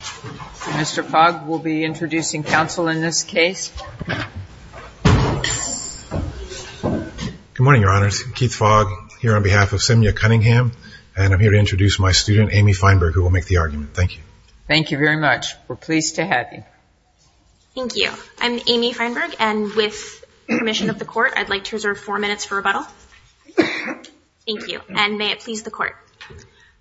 Mr. Fogg will be introducing counsel in this case. Good morning, Your Honors. Keith Fogg here on behalf of Semyya Cunningham and I'm here to introduce my student Amy Feinberg who will make the argument. Thank you. Thank you very much. We're pleased to have you. Thank you. I'm Amy Feinberg and with permission of the court I'd like to reserve four minutes for rebuttal. Thank you. And may it please the court.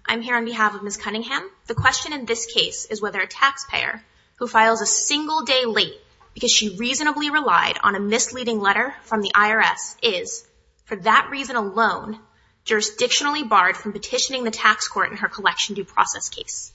I'm here on behalf of Ms. Cunningham. The question in this case is whether a taxpayer who files a single day late because she reasonably relied on a misleading letter from the IRS is for that reason alone jurisdictionally barred from petitioning the tax court in her collection due process case.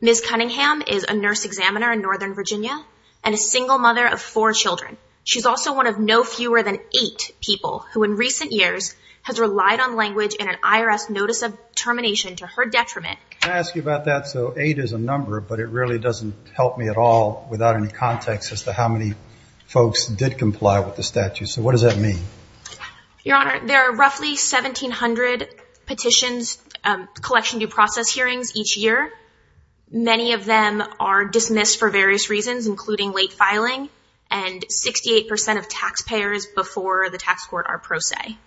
Ms. Cunningham is a nurse examiner in Northern Virginia and a single mother of four children. She's also one of no fewer than eight people who in recent years has relied on language in an IRS notice of termination to her detriment. Can I ask you about that? So eight is a number but it really doesn't help me at all without any context as to how many folks did comply with the statute. So what does that mean? Your Honor, there are roughly 1,700 petitions collection due process hearings each year. Many of them are dismissed for various reasons including late filing and 68% of taxpayers before the tax court are pro se.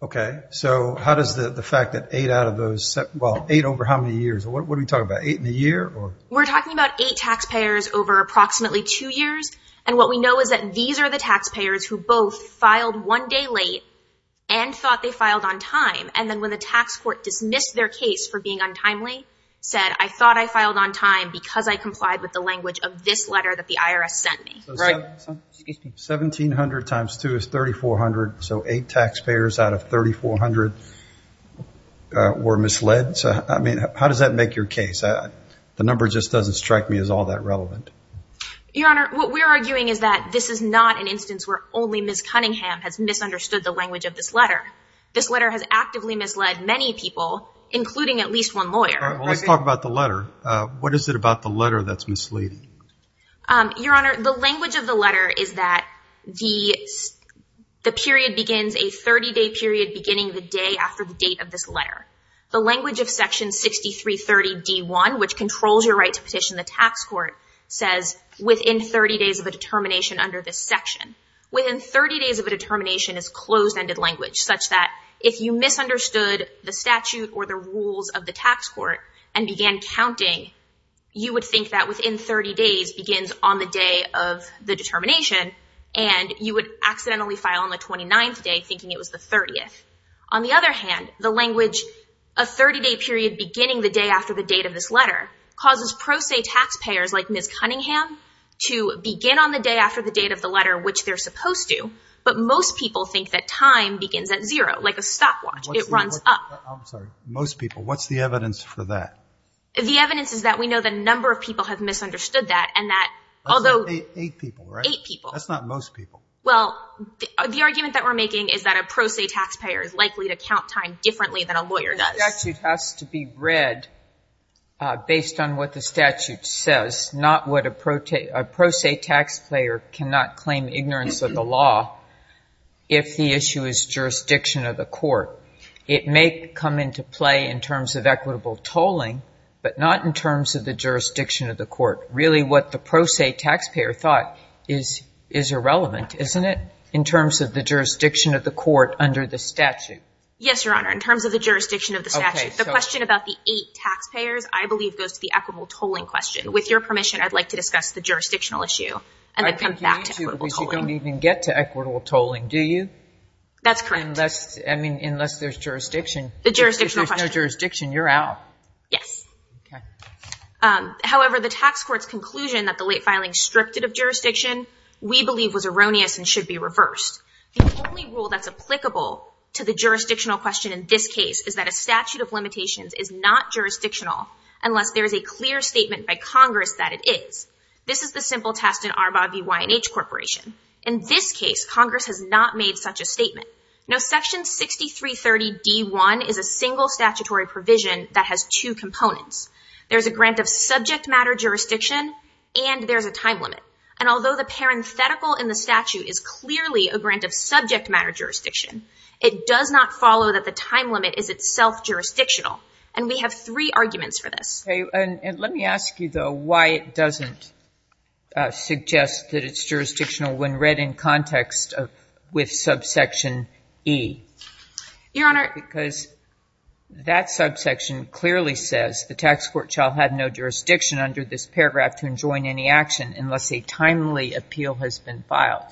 Okay, so how is the fact that eight out of those, well eight over how many years? What are we talking about? Eight in a year? We're talking about eight taxpayers over approximately two years and what we know is that these are the taxpayers who both filed one day late and thought they filed on time and then when the tax court dismissed their case for being untimely said I thought I filed on time because I complied with the language of this letter that the IRS sent me. 1,700 times 2 is 3,400 so eight taxpayers out of 3,400 were misled. I mean how does that make your case? The number just doesn't strike me as all that relevant. Your Honor, what we're arguing is that this is not an instance where only Ms. Cunningham has misunderstood the language of this letter. This letter has actively misled many people including at least one lawyer. Let's talk about the letter. What is it about the letter that's misleading? Your Honor, the language of the letter is that the period begins a 30-day period beginning the day after the date of this letter. The language of section 6330 D1 which controls your right to petition the tax court says within 30 days of a determination under this section. Within 30 days of a determination is closed ended language such that if you misunderstood the statute or the rules of the tax court and began counting you would think that within 30 days begins on the day of the determination and you would accidentally file on the 29th day thinking it was the 30th. On the other hand, the language a 30-day period beginning the day after the date of this letter causes pro se taxpayers like Ms. Cunningham to begin on the day after the date of the letter which they're supposed to but most people think that time begins at zero like a stopwatch. It runs up. I'm sorry, most people. What's the evidence for that? The evidence is that we Well, the argument that we're making is that a pro se taxpayer is likely to count time differently than a lawyer does. The statute has to be read based on what the statute says not what a pro se taxpayer cannot claim ignorance of the law if the issue is jurisdiction of the court. It may come into play in terms of equitable tolling but not in terms of the jurisdiction of the court. Really what the pro se taxpayer thought is irrelevant, isn't it, in terms of the jurisdiction of the court under the statute? Yes, Your Honor, in terms of the jurisdiction of the statute. The question about the eight taxpayers I believe goes to the equitable tolling question. With your permission, I'd like to discuss the jurisdictional issue and then come back to equitable tolling. You don't even get to equitable tolling, do you? That's correct. I mean, unless there's jurisdiction. The jurisdictional question. If there's no conclusion that the late filing stripted of jurisdiction, we believe was erroneous and should be reversed. The only rule that's applicable to the jurisdictional question in this case is that a statute of limitations is not jurisdictional unless there is a clear statement by Congress that it is. This is the simple test in Arbaugh v. Y&H Corporation. In this case, Congress has not made such a statement. Now section 6330. D. 1 is a single statutory provision that has two and there's a time limit. And although the parenthetical in the statute is clearly a grant of subject matter jurisdiction, it does not follow that the time limit is itself jurisdictional. And we have three arguments for this. And let me ask you though, why it doesn't suggest that it's jurisdictional when read in context with subsection E? Your Honor. Because that subsection clearly says the tax court shall have no jurisdiction under this paragraph to enjoin any action unless a timely appeal has been filed.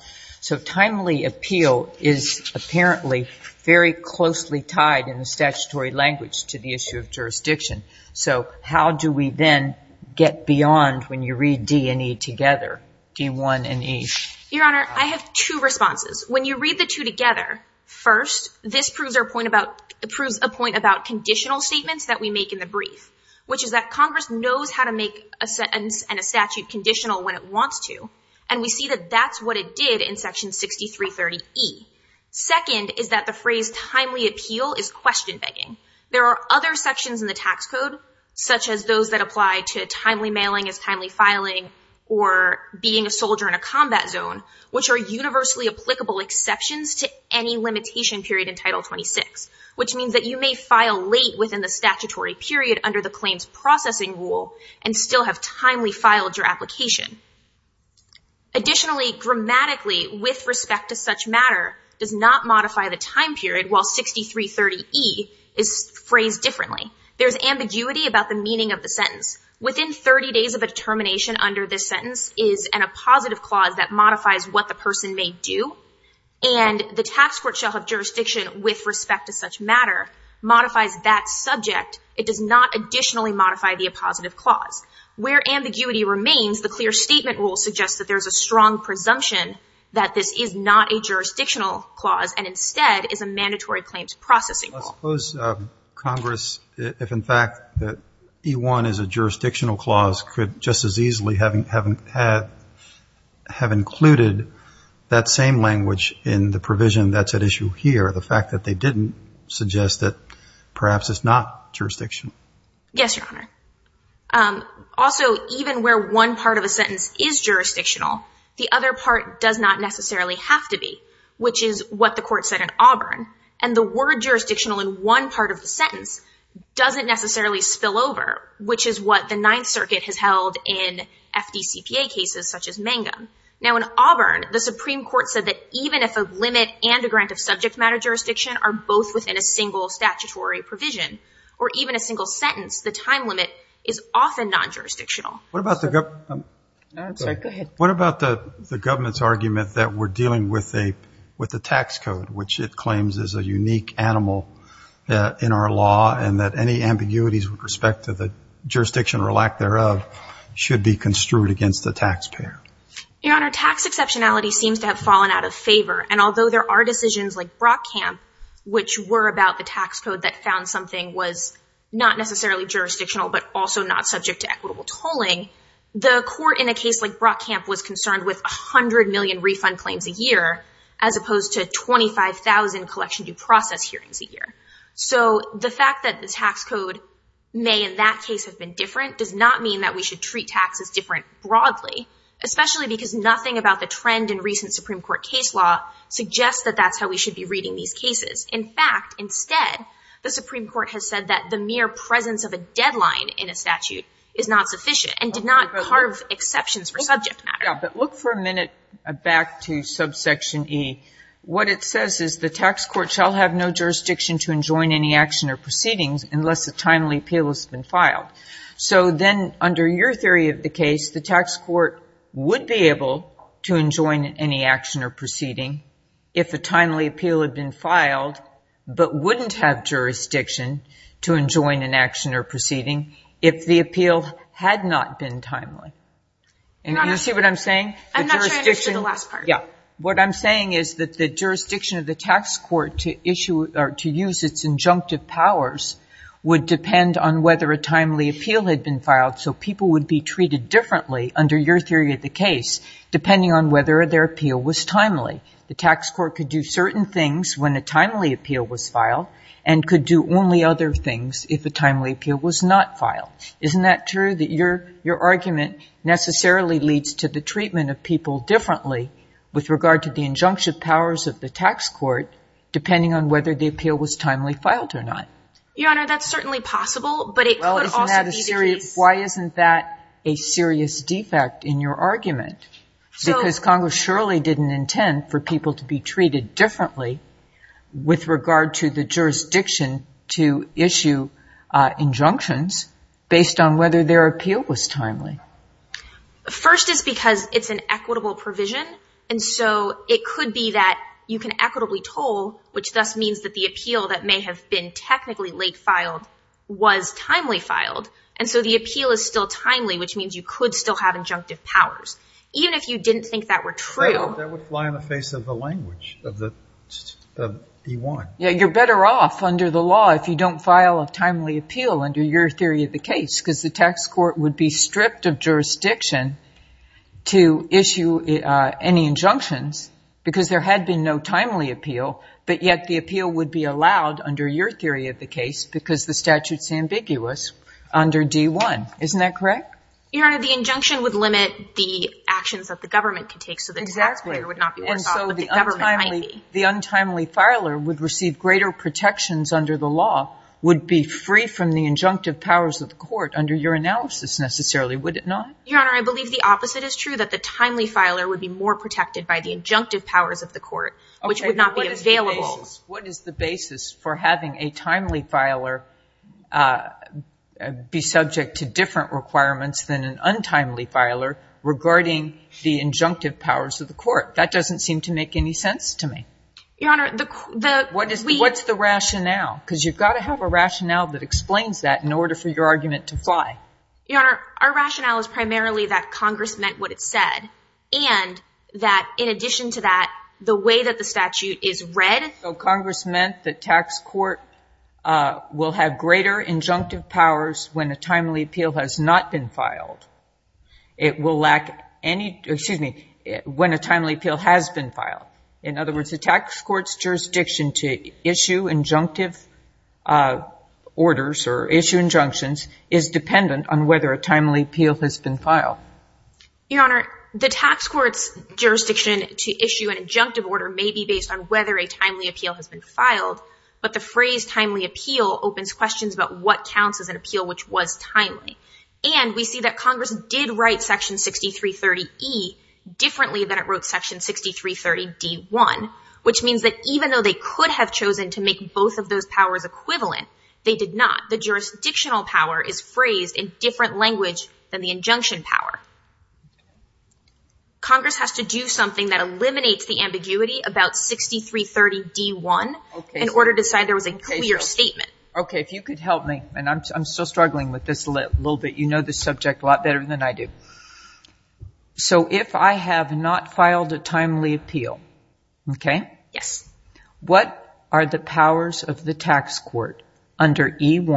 So timely appeal is apparently very closely tied in the statutory language to the issue of jurisdiction. So how do we then get beyond when you read D and E together? D. 1 and E. Your Honor, I have two responses. When you read the two together, first, this proves a point about conditional statements that we make in the brief. Which is that Congress knows how to make a sentence and a statute conditional when it wants to. And we see that that's what it did in section 6330. E. Second is that the phrase timely appeal is question-begging. There are other sections in the tax code, such as those that apply to timely mailing as timely filing or being a soldier in a combat zone, which are universally applicable exceptions to any limitation period in Title 26. Which means that you may file late within the statutory period under the claims processing rule and still have timely filed your application. Additionally, grammatically, with respect to such matter, does not modify the time period while 6330 E is phrased differently. There's ambiguity about the meaning of the sentence. Within 30 days of a determination under this sentence is an appositive clause that modifies what the person may do. And the tax court shall have jurisdiction with respect to such matter, modifies that subject. It does not additionally modify the appositive clause. Where ambiguity remains, the clear statement rule suggests that there's a strong presumption that this is not a jurisdictional clause and instead is a mandatory claims processing rule. I suppose, Congress, if in fact that E1 is a jurisdictional clause, could just as easily have included that same language in the provision that's at issue here, the fact that they didn't suggest that perhaps it's not jurisdictional. Yes, Your Honor. Also, even where one part of a sentence is jurisdictional, the other part does not necessarily have to be, which is what the court said in Auburn. And the word jurisdictional in one part of the sentence doesn't necessarily spill over, which is what the Ninth Circuit has held in FDCPA cases such as Mangum. Now, in Auburn, the Supreme Court said that even if a limit and a grant of subject matter jurisdiction are both within a single statutory provision or even a single sentence, the time limit is often non-jurisdictional. What about the government's argument that we're dealing with a tax code, which it claims is a unique animal in our law and that any should be construed against the taxpayer? Your Honor, tax exceptionality seems to have fallen out of favor. And although there are decisions like Brockamp, which were about the tax code that found something was not necessarily jurisdictional but also not subject to equitable tolling, the court in a case like Brockamp was concerned with a hundred million refund claims a year as opposed to 25,000 collection due process hearings a year. So the fact that the tax code may in that case have been different does not mean that we should treat taxes different broadly, especially because nothing about the trend in recent Supreme Court case law suggests that that's how we should be reading these cases. In fact, instead, the Supreme Court has said that the mere presence of a deadline in a statute is not sufficient and did not carve exceptions for subject matter. But look for a minute back to subsection E. What it says is the tax court shall have no jurisdiction to enjoin any action or proceeding if the appeal had not been timely. And you see what I'm saying? I'm not sure I understood the last part. What I'm saying is that the jurisdiction of the tax court to issue or to use its injunctive powers would depend on whether a timely appeal had been filed. So people would be treated differently under your theory of the case depending on whether their appeal was timely. The tax court could do certain things when a timely appeal was filed and could do only other things if the timely appeal was not filed. Isn't that true that your your argument necessarily leads to the treatment of people differently with regard to the injunctive powers of the tax court depending on whether the Why isn't that a serious defect in your argument? Because Congress surely didn't intend for people to be treated differently with regard to the jurisdiction to issue injunctions based on whether their appeal was timely. First is because it's an equitable provision and so it could be that you can equitably toll, which thus means that the appeal that may have been technically late filed was timely filed and so the appeal is still timely which means you could still have injunctive powers. Even if you didn't think that were true... That would fly in the face of the language of the D1. Yeah you're better off under the law if you don't file a timely appeal under your theory of the case because the tax court would be stripped of jurisdiction to issue any injunctions because there had been no timely appeal but yet the appeal would be allowed under your theory of the case because the statute is ambiguous under D1. Isn't that correct? Your Honor, the injunction would limit the actions that the government could take so the tax payer would not be worse off but the government might be. And so the untimely filer would receive greater protections under the law would be free from the injunctive powers of the court under your analysis necessarily would it not? Your Honor, I believe the opposite is true that the timely filer would be more protected by the injunctive powers of the court which would not be available. What is the basis for having a timely filer be subject to different requirements than an untimely filer regarding the injunctive powers of the court? That doesn't seem to make any sense to me. Your Honor... What's the rationale? Because you've got to have a rationale that explains that in order for your argument to fly. Your Honor, our rationale is primarily that Congress meant what it said and that in addition to that the way that the statute is read... So Congress meant the tax court will have greater injunctive powers when a timely appeal has not been filed. It will lack any... excuse me... when a timely appeal has been filed. In other words, the tax court's jurisdiction to issue injunctive orders or issue injunctions is dependent on whether a timely appeal has been Your Honor, the tax court's jurisdiction to issue an injunctive order may be based on whether a timely appeal has been filed, but the phrase timely appeal opens questions about what counts as an appeal which was timely. And we see that Congress did write section 6330E differently than it wrote section 6330D1, which means that even though they could have chosen to make both of those powers equivalent, they did not. The jurisdictional power is phrased in Congress has to do something that eliminates the ambiguity about 6330D1 in order to decide there was a clear statement. Okay, if you could help me, and I'm still struggling with this a little bit. You know the subject a lot better than I do. So if I have not filed a timely appeal, okay? Yes. What are the Your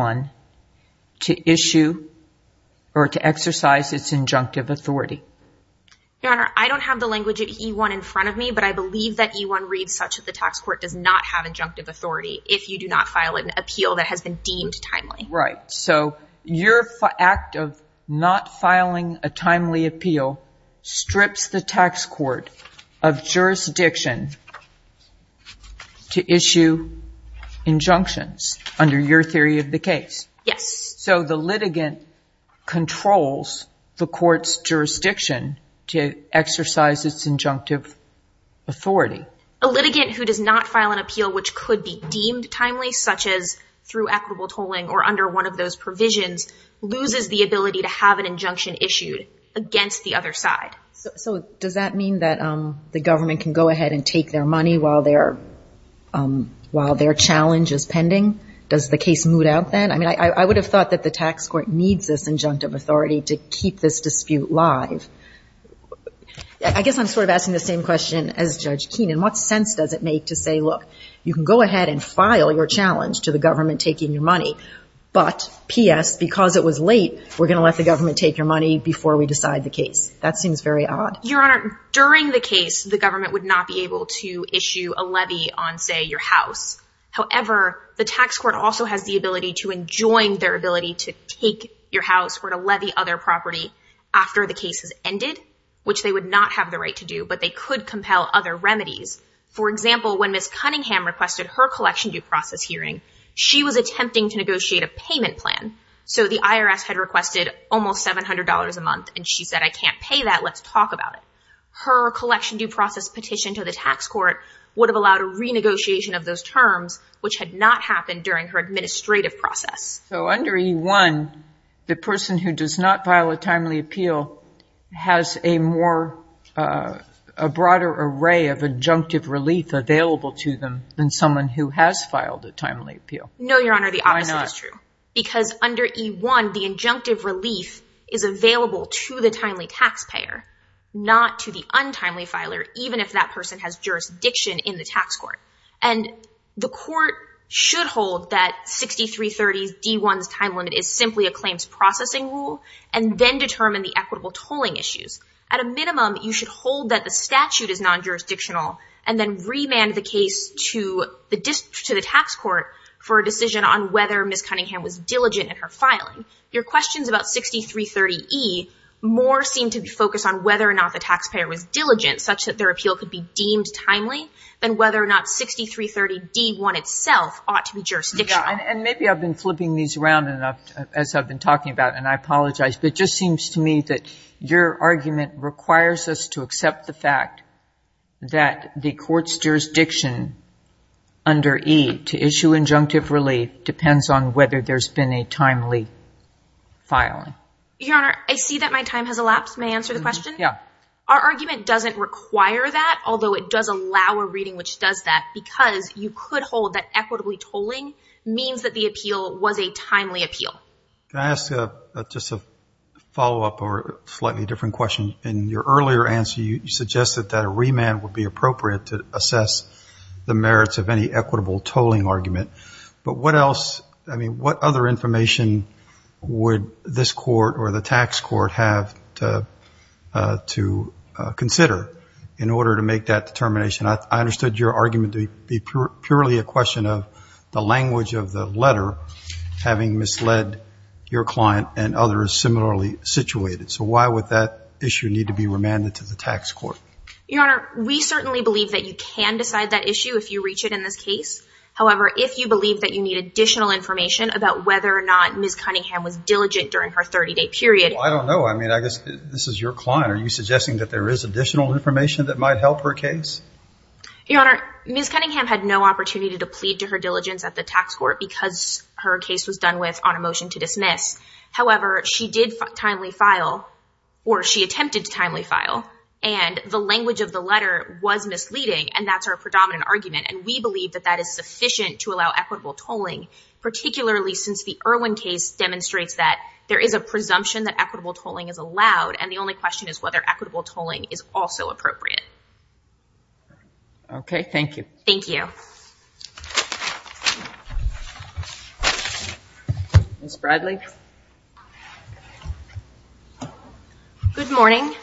Honor, I don't have the language at E1 in front of me, but I believe that E1 reads such that the tax court does not have injunctive authority if you do not file an appeal that has been deemed timely. Right, so your act of not filing a timely appeal strips the tax court of jurisdiction to issue injunctions under your theory of the case. Yes. So the litigant controls the court's jurisdiction to exercise its injunctive authority. A litigant who does not file an appeal which could be deemed timely, such as through equitable tolling or under one of those provisions, loses the ability to have an injunction issued against the other side. So does that mean that the government can go ahead and I mean I would have thought that the tax court needs this injunctive authority to keep this dispute live. I guess I'm sort of asking the same question as Judge Keenan. What sense does it make to say, look, you can go ahead and file your challenge to the government taking your money, but P.S., because it was late, we're gonna let the government take your money before we decide the case. That seems very odd. Your Honor, during the case, the government would not be able to issue a injunction. The government has the ability to enjoin their ability to take your house or to levy other property after the case has ended, which they would not have the right to do, but they could compel other remedies. For example, when Ms. Cunningham requested her collection due process hearing, she was attempting to negotiate a payment plan. So the IRS had requested almost $700 a month, and she said, I can't pay that. Let's talk about it. Her collection due process petition to the tax court would have allowed a renegotiation of those process. So under E1, the person who does not file a timely appeal has a more, a broader array of injunctive relief available to them than someone who has filed a timely appeal. No, Your Honor, the opposite is true. Because under E1, the injunctive relief is available to the timely taxpayer, not to the untimely filer, even if that person has jurisdiction in the tax court. And the 6330 D1's time limit is simply a claims processing rule, and then determine the equitable tolling issues. At a minimum, you should hold that the statute is non-jurisdictional, and then remand the case to the tax court for a decision on whether Ms. Cunningham was diligent in her filing. Your questions about 6330 E more seem to be focused on whether or not the taxpayer was diligent, such that their appeal could be deemed timely, than whether or not 6330 D1 itself ought to be jurisdictional. And maybe I've been flipping these around enough as I've been talking about, and I apologize, but it just seems to me that your argument requires us to accept the fact that the court's jurisdiction under E to issue injunctive relief depends on whether there's been a timely filing. Your Honor, I see that my time has elapsed. May I answer the question? Yeah. Our argument doesn't require that, although it does allow a reading which does that, because you could hold that equitably tolling means that the appeal was a timely appeal. Can I ask just a follow-up or slightly different question? In your earlier answer, you suggested that a remand would be appropriate to assess the merits of any equitable tolling argument, but what else, I mean, what other information would this court or the tax court have to consider in order to make that determination? I understood your argument to be purely a question of the language of the letter having misled your client and others similarly situated. So why would that issue need to be remanded to the tax court? Your Honor, we certainly believe that you can decide that issue if you reach it in this case. However, if you believe that you need additional information about whether or not Ms. Cunningham was diligent during her 30-day period. I don't know, I mean, I guess this is your client. Are you suggesting that there is additional information that might help her case? Your Honor, Ms. Cunningham had no opportunity to plead to her diligence at the tax court because her case was done with on a motion to dismiss. However, she did timely file, or she attempted to timely file, and the language of the letter was misleading, and that's our predominant argument, and we believe that that is sufficient to allow equitable tolling, particularly since the Irwin case demonstrates that there is a presumption that equitable tolling is allowed, and the only question is whether equitable tolling is also appropriate. Okay, thank you. Thank you. Ms. Bradley? Good morning.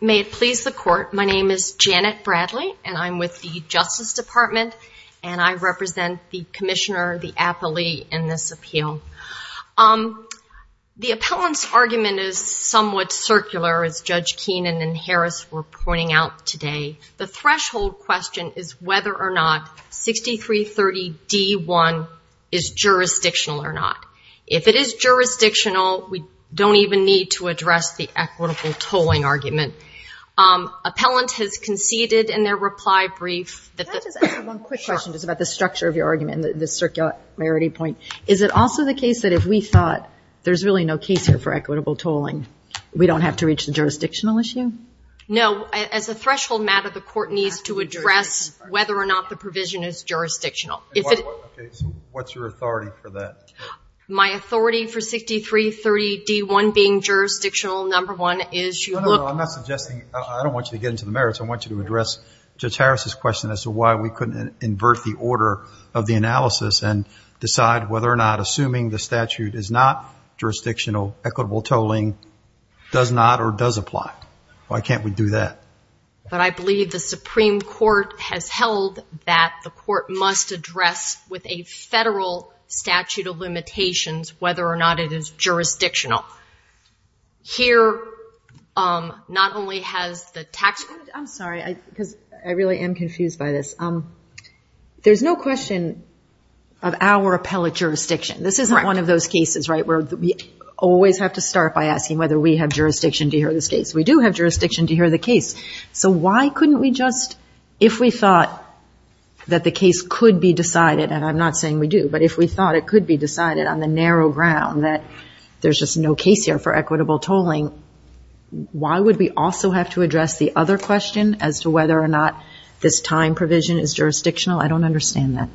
May it please the Court, my name is Janet Bradley, and I'm with the Justice Department, and I represent the Commissioner, the appellee, in this appeal. The appellant's argument is somewhat circular, as Judge Keenan and Harris were pointing out today. The threshold question is whether or not 6330 D1 is jurisdictional or not. If it is jurisdictional, we don't even need to address the equitable tolling argument. Appellant has conceded in their reply brief that... Can I just ask one quick question just about the structure of your argument, the circularity point. Is it also the case that if we thought there's really no case here for equitable tolling, we don't have to reach the jurisdictional issue? No, as a threshold matter, the Court needs to address whether or not the provision is jurisdictional. What's your authority for that? My authority for 6330 D1 being jurisdictional, number one, is you look... I'm not suggesting, I don't want you to get into the merits, I want you to address Judge Harris's question as to why we couldn't invert the order of the analysis and decide whether or not assuming the statute is not jurisdictional, equitable tolling does not or does apply. Why can't we do that? But I believe the Supreme Court has held that the Court must address with a federal statute of limitations whether or not it is jurisdictional. Here, not only has the tax... I'm sorry, I really am there's no question of our appellate jurisdiction. This isn't one of those cases, right, where we always have to start by asking whether we have jurisdiction to hear this case. We do have jurisdiction to hear the case, so why couldn't we just, if we thought that the case could be decided, and I'm not saying we do, but if we thought it could be decided on the narrow ground that there's just no case here for equitable tolling, why would we also have to address the other question as to whether or not this time provision is jurisdictional? I don't understand that.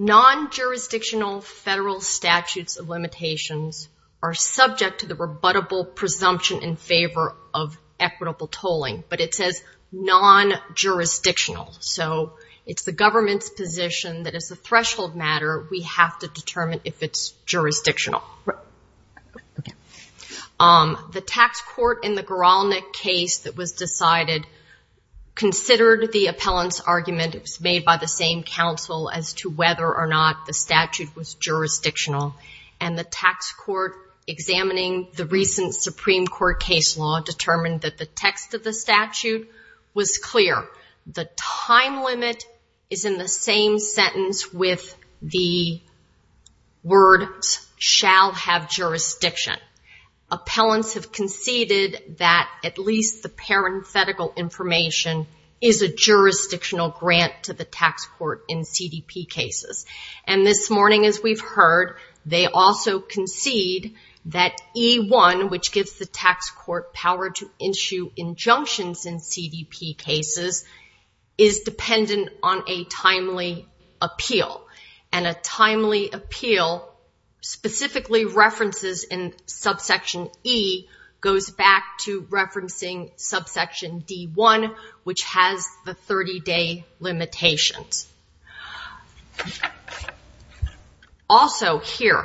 Non-jurisdictional federal statutes of limitations are subject to the rebuttable presumption in favor of equitable tolling, but it says non-jurisdictional, so it's the government's position that as a threshold matter we have to determine if it's jurisdictional. The tax court in the Goralnik case that was decided considered the appellant's argument. It was made by the same counsel as to whether or not the statute was jurisdictional, and the tax court examining the recent Supreme Court case law determined that the text of the statute was clear. The time limit is in the same sentence with the word have jurisdiction. Appellants have conceded that at least the parenthetical information is a jurisdictional grant to the tax court in CDP cases, and this morning as we've heard, they also concede that E1, which gives the tax court power to issue injunctions in CDP cases, is dependent on a timely appeal, and a specifically references in subsection E goes back to referencing subsection D1, which has the 30-day limitations. Also here,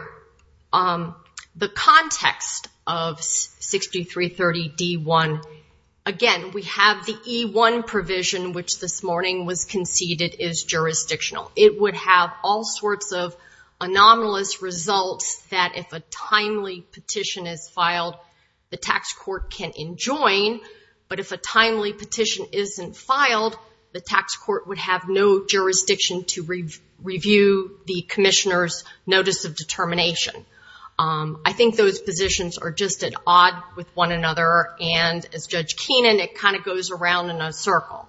the context of 6330 D1, again we have the E1 provision which this morning was conceded is jurisdictional. It would have all sorts of anomalous results that if a timely petition is filed, the tax court can enjoin, but if a timely petition isn't filed, the tax court would have no jurisdiction to review the Commissioner's notice of determination. I think those positions are just at odd with one another, and as Judge Keenan, it goes around in a circle.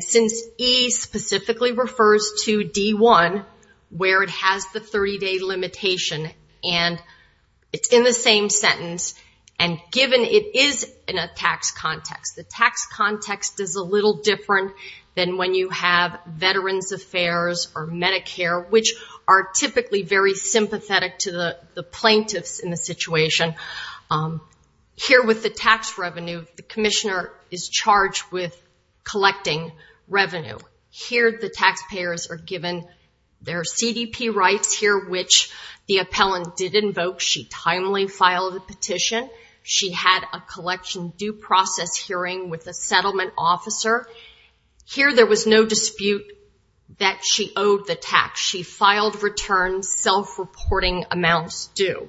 Since E specifically refers to D1, where it has the 30-day limitation, and it's in the same sentence, and given it is in a tax context, the tax context is a little different than when you have Veterans Affairs or Medicare, which are typically very sympathetic to the plaintiffs in the situation. Here with the tax revenue, the Commissioner is charged with collecting revenue. Here the taxpayers are given their CDP rights, here which the appellant did invoke. She timely filed a petition. She had a collection due process hearing with a settlement officer. Here there was no dispute that she owed the tax. She filed returns, self-reporting amounts due.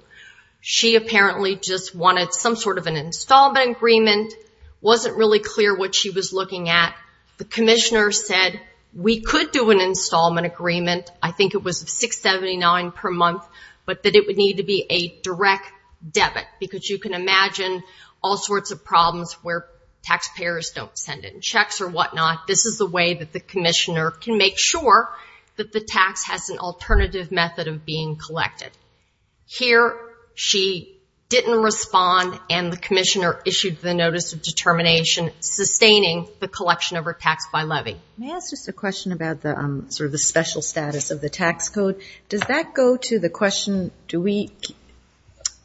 She apparently just wanted some sort of an installment agreement, wasn't really clear what she was looking at. The Commissioner said, we could do an installment agreement. I think it was $679 per month, but that it would need to be a direct debit, because you can imagine all sorts of problems where taxpayers don't send in checks or whatnot. This is the way that the Commissioner can make sure that the tax has an alternative method of being collected. Here she didn't respond, and the Commissioner issued the Notice of Determination, sustaining the collection of her tax by levy. May I ask just a question about the sort of the special status of the tax code? Does that go to the question,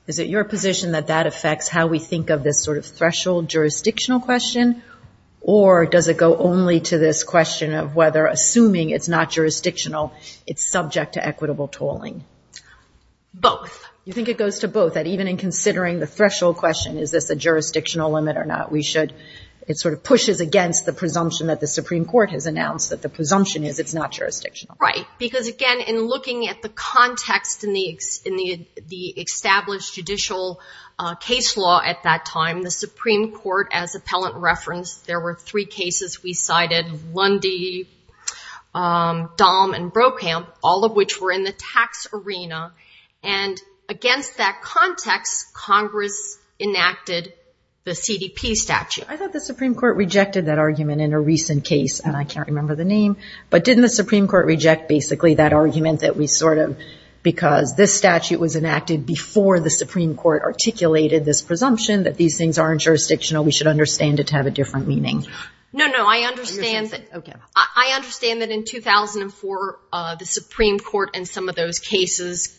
is it your position that that affects how we think of this sort of threshold jurisdictional question, or does it go only to this question of whether, assuming it's not jurisdictional, it's subject to equitable tolling? Both. You think it goes to both, that even in considering the threshold question, is this a jurisdictional limit or not, we should, it sort of pushes against the presumption that the Supreme Court has announced, that the presumption is it's not jurisdictional. Right, because again in looking at the context in the established judicial case law at that time, the Supreme Court, as appellant referenced, there were three cases we cited, Lundy, Dahm, and Brokamp, all of which were in the tax arena, and against that context, Congress enacted the CDP statute. I thought the Supreme Court rejected that argument in a recent case, and I can't remember the name, but didn't the Supreme Court reject basically that argument that we sort of, because this statute was enacted before the Supreme Court articulated this presumption, that these things aren't jurisdictional, we should understand it have a different meaning? No, no, I understand that in 2004, the Supreme Court and some of those cases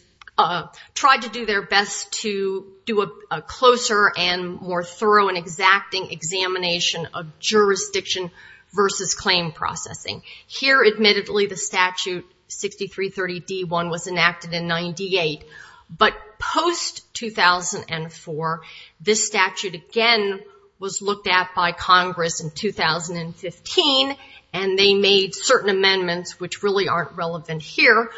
tried to do their best to do a closer and more thorough and exacting examination of jurisdiction versus claim processing. Here, admittedly, the statute 6330 D1 was enacted in 98, but post-2004, this statute again was looked at by Congress in 2015, and they made certain amendments which really aren't relevant here,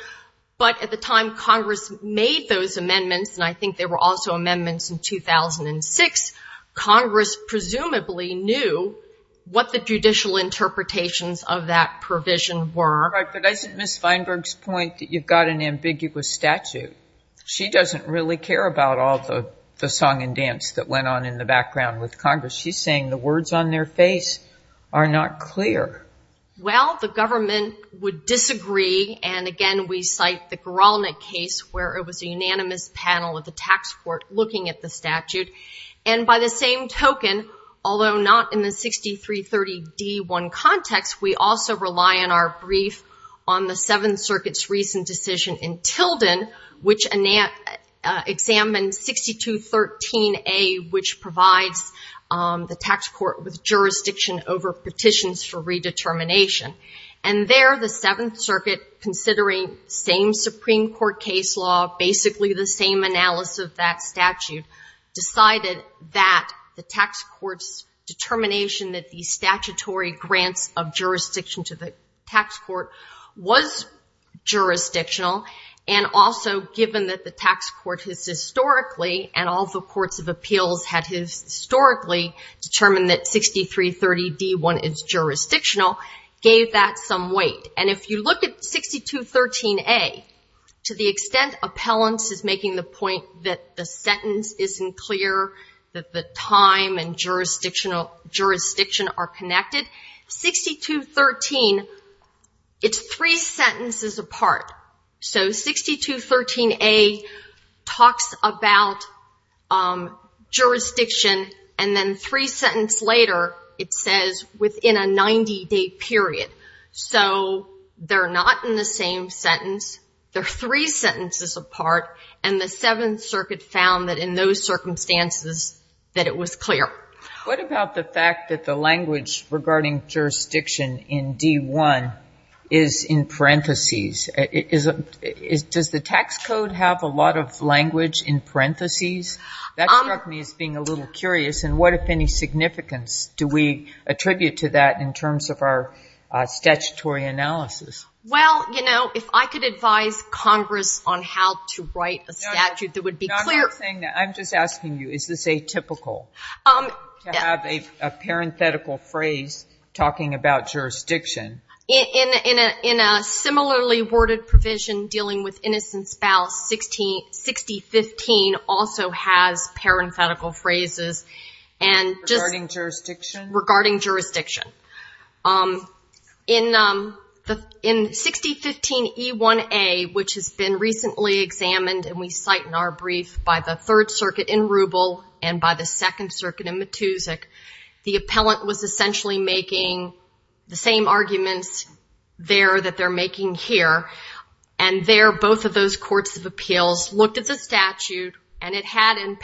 but at the time Congress made those amendments, and I think there were also amendments in 2006, Congress presumably knew what the judicial interpretations of that provision were. Right, but isn't Ms. Feinberg's point that you've got an ambiguous statute? She doesn't really care about all the song and dance that went on in the background with Congress. She's saying the words on their face are not clear. Well, the government would disagree, and again, we cite the Guralnick case where it was a unanimous panel of the tax court looking at the statute, and by the same token, although not in the 6330 D1 context, we also rely on our brief on the Seventh Circuit, which examined 6213A, which provides the tax court with jurisdiction over petitions for redetermination, and there, the Seventh Circuit, considering same Supreme Court case law, basically the same analysis of that statute, decided that the tax court's determination that the statutory grants of jurisdiction to the tax court was jurisdictional, and also given that the tax court has historically, and all the courts of appeals had historically, determined that 6330 D1 is jurisdictional, gave that some weight, and if you look at 6213A, to the extent appellants is making the point that the sentence isn't clear, that the time and jurisdiction are connected, 6213, it's three sentences apart, so 6213A talks about jurisdiction, and then three sentences later, it says within a 90-day period, so they're not in the same sentence, they're three sentences apart, and the Seventh Circuit found that in those circumstances, that it was clear. What about the fact that the language regarding jurisdiction in D1 is in parentheses? Does the tax code have a lot of language in parentheses? That struck me as being a little curious, and what, if any, significance do we attribute to that in terms of our statutory analysis? Well, you know, if I could advise Congress on how to write a statute that would be clear... I'm not saying that. I'm just asking you, is this atypical to have a parenthetical phrase talking about jurisdiction? In a similarly worded provision dealing with innocent spouse, 6015 also has parenthetical phrases, and just... Regarding jurisdiction? Regarding jurisdiction. In 6015E1A, which has been recently examined, and we cite in our brief by the Third Circuit in Rubel and by the Second Circuit in Matusik, the appellant was essentially making the same arguments there that they're making here, and there both of those courts of appeals looked at the statute, and it had in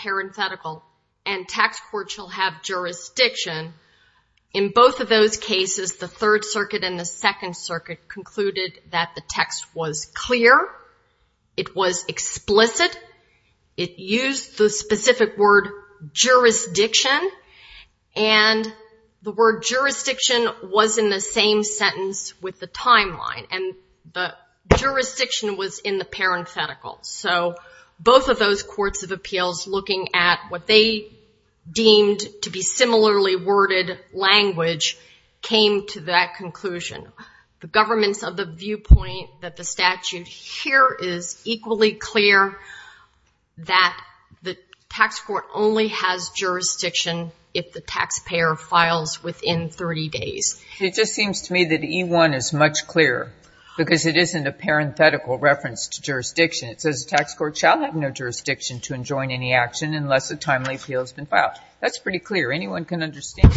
both of those cases, the Third Circuit and the Second Circuit concluded that the text was clear, it was explicit, it used the specific word jurisdiction, and the word jurisdiction was in the same sentence with the timeline, and the jurisdiction was in the parenthetical. So both of those courts of appeals looking at what they deemed to be came to that conclusion. The government's of the viewpoint that the statute here is equally clear that the tax court only has jurisdiction if the taxpayer files within 30 days. It just seems to me that E1 is much clearer because it isn't a parenthetical reference to jurisdiction. It says the tax court shall have no jurisdiction to enjoin any action unless a timely appeal has been filed. That's pretty clear. Anyone can understand.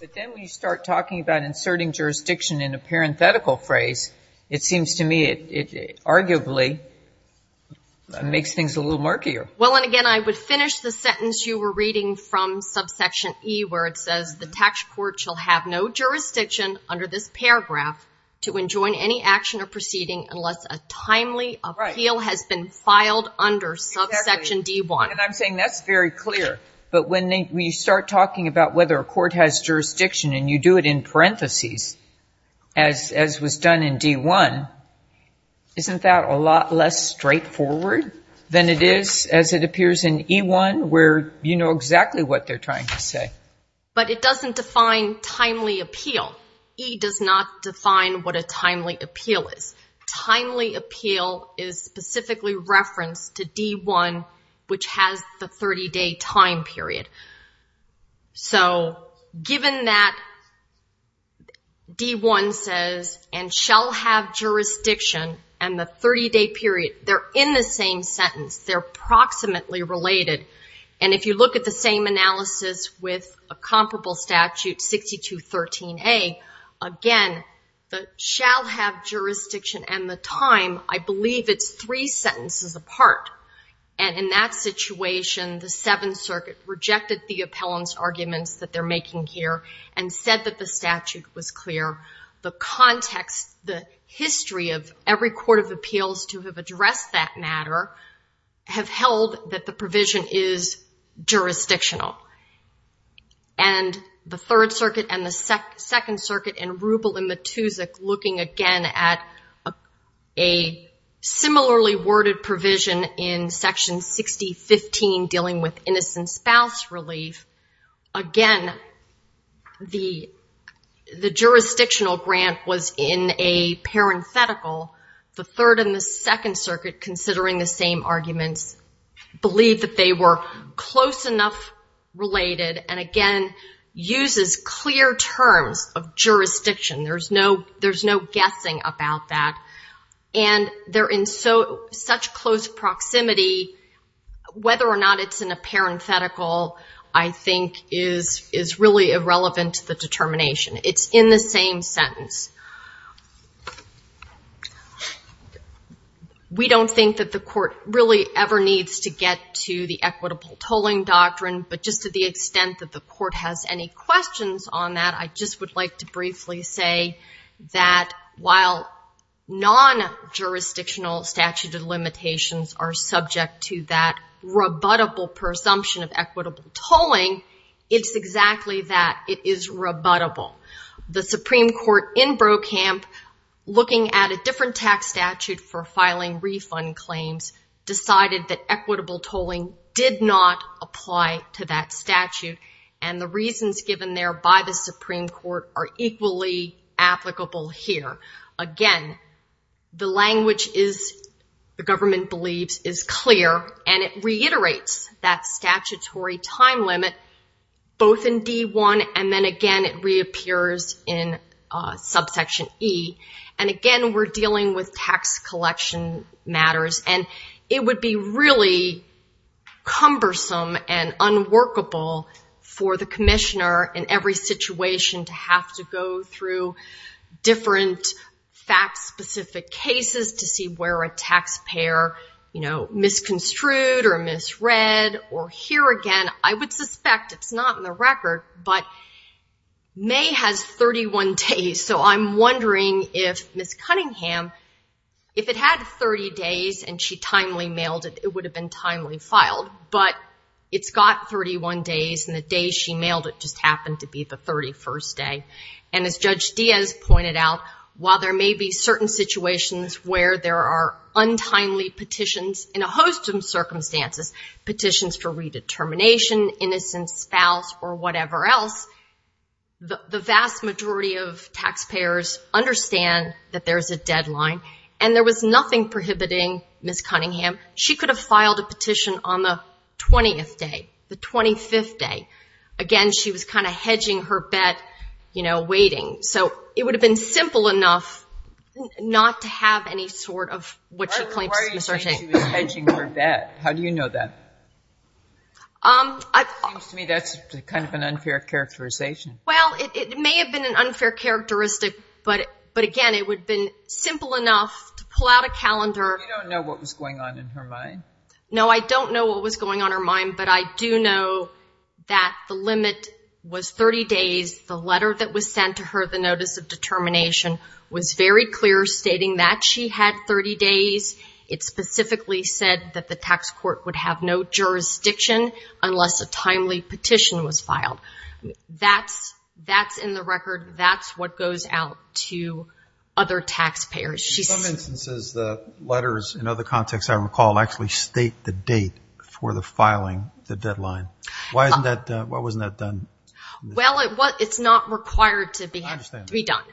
But then when you start talking about inserting jurisdiction in a parenthetical phrase, it seems to me it arguably makes things a little murkier. Well, and again, I would finish the sentence you were reading from subsection E where it says the tax court shall have no jurisdiction under this paragraph to enjoin any action or proceeding unless a timely appeal has been filed under subsection D1. And I'm saying that's very clear. But when you start talking about whether a court has jurisdiction and you do it in parentheses as was done in D1, isn't that a lot less straightforward than it is as it appears in E1 where you know exactly what they're trying to say? But it doesn't define timely appeal. E does not define what a timely appeal is. Timely appeal is specifically referenced to D1, which has the 30-day time period. So given that D1 says, and shall have jurisdiction and the 30-day period, they're in the same sentence, they're approximately related. And if you look at the same analysis with a comparable statute, 6213A, again, the shall have jurisdiction and the time, I believe it's three sentences apart. And in that situation, the Seventh Circuit rejected the appellant's arguments that they're making here and said that the statute was clear. The context, the history of every court of appeals to have addressed that matter have held that the provision is jurisdictional. And the Third Circuit and the Second Circuit in Ruble and Matusik looking again at a similarly worded provision in Section 6015 dealing with innocent spouse relief, again, the jurisdictional grant was in a parenthetical. The Third and the Second Circuit, considering the same arguments, believe that they were close enough related and, again, uses clear terms of jurisdiction. There's no guessing about that. And they're in such close proximity, whether or not it's in a parenthetical, I think is really irrelevant to the determination. It's in the same sentence. We don't think that the court really ever needs to get to the equitable tolling doctrine. But just to the extent that the court has any questions on that, I just would like to briefly say that while non-jurisdictional statute of limitations are subject to that rebuttable presumption of equitable tolling, it's exactly that. It is rebuttable. The Supreme Court in Brokamp, looking at a different tax statute for filing refund claims, decided that equitable tolling did not apply to that statute. And the reasons given there by the Supreme Court are equally applicable here. Again, the language is, the government believes, is clear. And it reiterates that statutory time limit both in D1. And then again, it reappears in subsection E. And again, we're dealing with tax collection matters. And it would be really cumbersome and unworkable for the commissioner in every situation to have to go through different fact-specific cases to see where a taxpayer misconstrued or misread or here again. I would suspect it's not in the record. But May has 31 days. So I'm wondering if Ms. Cunningham, if it had 30 days and she timely mailed it, it would have been timely filed. But it's got 31 days. And the day she mailed it just happened to be the 31st day. And as Judge Diaz pointed out, while there may be certain situations where there are untimely petitions in a host of circumstances, petitions for redetermination, innocence, spouse, or whatever else, the vast majority of taxpayers understand that there is a deadline. And there was nothing prohibiting Ms. Cunningham. She could have filed a petition on the 20th day, the 25th day. Again, she was kind of hedging her bet, you know, waiting. So it would have been simple enough not to have any sort of what she claims. Why do you think she was hedging her bet? How do you know that? It seems to me that's kind of an unfair characterization. Well, it may have been an unfair characteristic. But again, it would have been simple enough to pull out a calendar. You don't know what was going on in her mind? No, I don't know what was going on her mind. But I do know that the limit was 30 days. The letter that was sent to her, the notice of determination, was very clear, stating that she had 30 days. It specifically said that the tax court would have no jurisdiction unless a timely petition was filed. That's in the record. That's what goes out to other taxpayers. In some instances, the letters, in other contexts I recall, actually state the date for the filing, the deadline. Why wasn't that done? Well, it's not required to be done.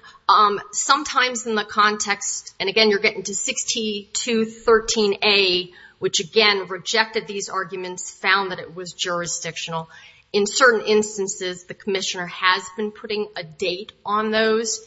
Sometimes in the context, and again, you're getting to 6213A, which again, rejected these arguments, found that it was jurisdictional. In certain instances, the commissioner has been putting a date on those.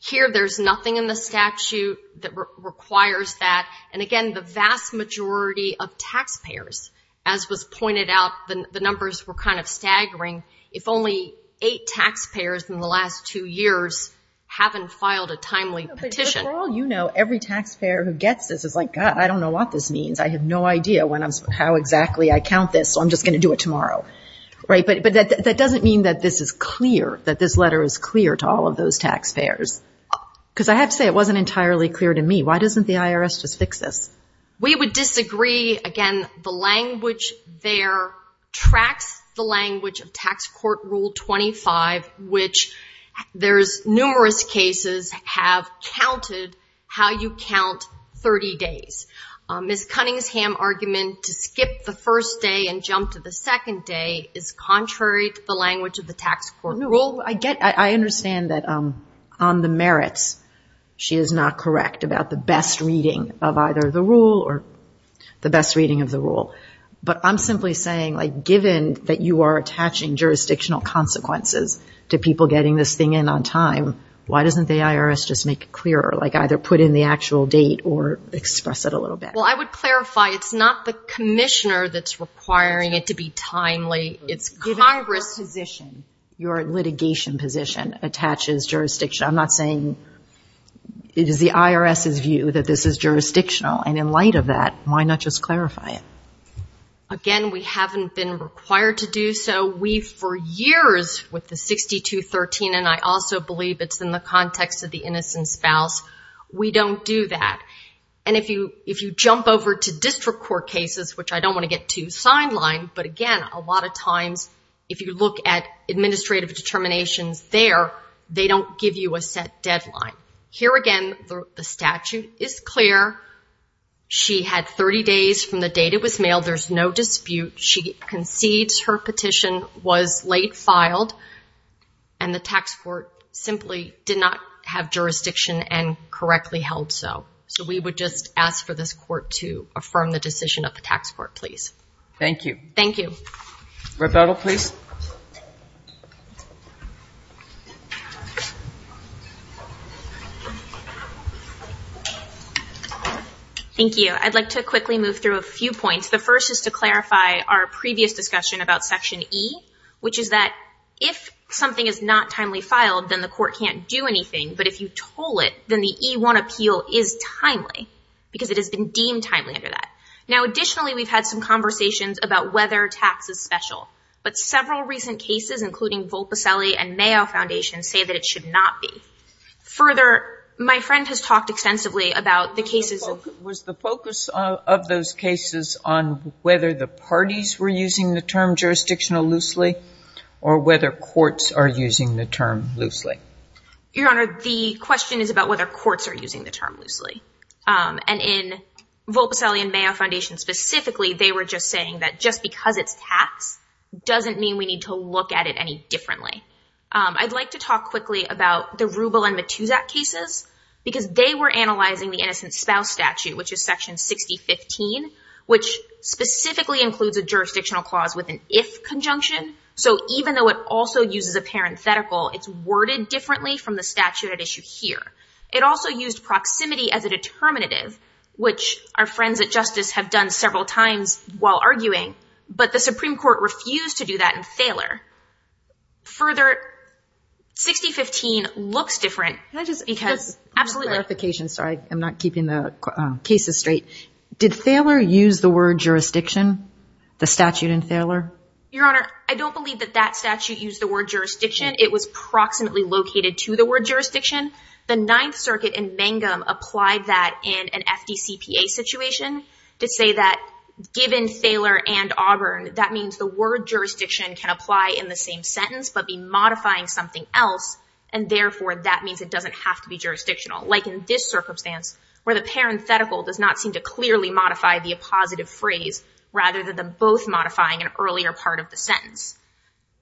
Here, there's nothing in the statute that requires that. And again, the vast majority of taxpayers, as was pointed out, the numbers were kind of staggering. If only eight taxpayers in the last two years haven't filed a timely petition. But for all you know, every taxpayer who gets this is like, God, I don't know what this means. I have no idea how exactly I count this, so I'm just going to do it tomorrow. Right, but that doesn't mean that this is clear, that this letter is clear to all of those taxpayers. Because I have to say, it wasn't entirely clear to me. Why doesn't the IRS just fix this? We would disagree. Again, the language there tracks the language of Tax Court Rule 25, which there's numerous cases have counted how you count 30 days. Ms. Cunningham's argument to skip the first day and jump to the second day is contrary to the language of the tax court rule. I understand that on the merits, she is not about the best reading of either the rule or the best reading of the rule. But I'm simply saying, given that you are attaching jurisdictional consequences to people getting this thing in on time, why doesn't the IRS just make it clearer, like either put in the actual date or express it a little bit? Well, I would clarify, it's not the commissioner that's requiring it to be timely. It's Congress. Given your position, your litigation position attaches jurisdiction. I'm not saying it is the IRS's view that this is jurisdictional. And in light of that, why not just clarify it? Again, we haven't been required to do so. We, for years, with the 6213, and I also believe it's in the context of the innocent spouse, we don't do that. And if you jump over to district court cases, which I don't want to get too sidelined, but again, a lot of times, if you look at administrative determinations there, they don't give you a set deadline. Here again, the statute is clear. She had 30 days from the date it was mailed. There's no dispute. She concedes her petition was late filed. And the tax court simply did not have jurisdiction and correctly held so. So we would just ask for this court to affirm the decision of the tax court, please. Thank you. Thank you. Rebecca, please. Thank you. I'd like to quickly move through a few points. The first is to clarify our previous discussion about section E, which is that if something is not timely filed, then the court can't do anything. But if you toll it, then the E1 appeal is timely, because it has been deemed timely under that. Now additionally, we've had some conversations about whether tax is special. But several recent cases, including Volpicelli and Mayo Foundation, say that it should not be. Further, my friend has talked extensively about the cases of- Was the focus of those cases on whether the parties were using the term jurisdictional loosely, or whether courts are using the term loosely? Your Honor, the question is about whether courts are using the term loosely. And in Volpicelli and Mayo Foundation specifically, they were just saying that just because it's tax doesn't mean we need to look at it any differently. I'd like to talk quickly about the Rubel and Matusak cases, because they were analyzing the innocent spouse statute, which is section 6015, which specifically includes a jurisdictional clause with an if conjunction. So even though it also uses a parenthetical, it's worded differently from the statute at issue here. It also used proximity as a determinative, which our friends at Justice have done several times while arguing. But the Supreme Court refused to do that in Thaler. Further, 6015 looks different because- Can I just- Absolutely. Just for clarification, sorry, I'm not keeping the cases straight. Did Thaler use the word jurisdiction, the statute in Thaler? Your Honor, I don't believe that that statute used the word jurisdiction. It was proximately located to the word jurisdiction. The Ninth Circuit in Mangum applied that in an FDCPA situation to say that given Thaler and Auburn, that means the word jurisdiction can apply in the same sentence, but be modifying something else. And therefore, that means it doesn't have to be jurisdictional. Like in this circumstance, where the parenthetical does not seem to clearly modify the appositive phrase, rather than them both modifying an earlier part of the sentence.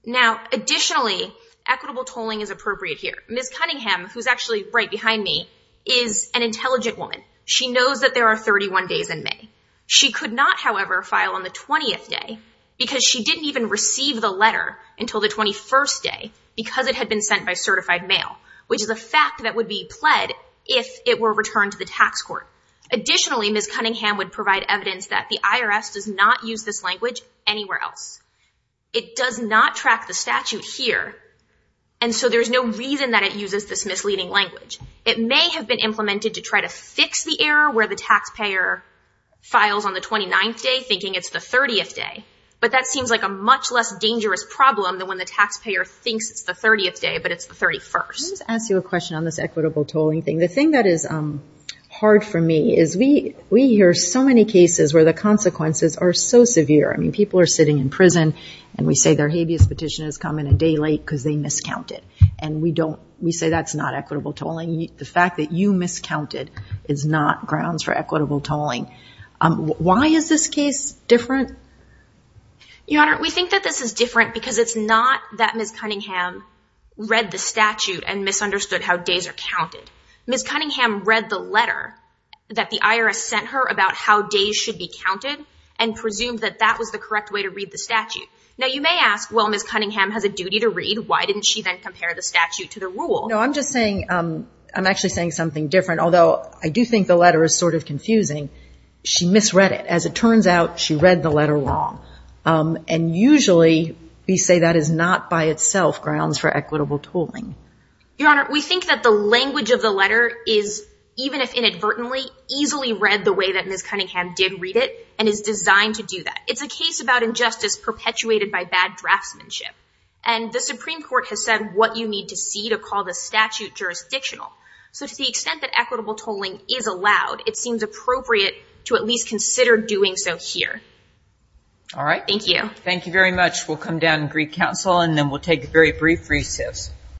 Now, additionally, equitable tolling is appropriate here. Ms. Cunningham, who's actually right behind me, is an intelligent woman. She knows that there are 31 days in May. She could not, however, file on the 20th day because she didn't even receive the letter until the 21st day because it had been sent by certified mail, which is a fact that would be pled if it were returned to the tax court. Additionally, Ms. Cunningham would provide evidence that the IRS does not use this language anywhere else. It does not track the statute here, and so there's no reason that it uses this misleading language. It may have been implemented to try to fix the error where the taxpayer files on the 29th day, thinking it's the 30th day. But that seems like a much less dangerous problem than when the taxpayer thinks it's the 30th day, but it's the 31st. Let me just ask you a question on this equitable tolling thing. The thing that is hard for me is we hear so many cases where the consequences are so severe. People are sitting in prison, and we say their habeas petition has come in a day late because they miscounted, and we say that's not equitable tolling. The fact that you miscounted is not grounds for equitable tolling. Why is this case different? Your Honor, we think that this is different because it's not that Ms. Cunningham read the statute and misunderstood how days are counted. Ms. Cunningham read the letter that the IRS sent her about how days should be counted and presumed that that was the correct way to read the statute. Now, you may ask, well, Ms. Cunningham has a duty to read. Why didn't she then compare the statute to the rule? No, I'm just saying, I'm actually saying something different, although I do think the letter is sort of confusing. She misread it. As it turns out, she read the letter wrong. And usually, we say that is not by itself grounds for equitable tolling. Your Honor, we think that the language of the letter is, even if inadvertently, easily read the way that Ms. Cunningham did read it and is designed to do that. It's a case about injustice perpetuated by bad draftsmanship. And the Supreme Court has said what you need to see to call the statute jurisdictional. So to the extent that equitable tolling is allowed, it seems appropriate to at least consider doing so here. All right. Thank you. Thank you very much. We'll come down and greet counsel, and then we'll take a very brief recess.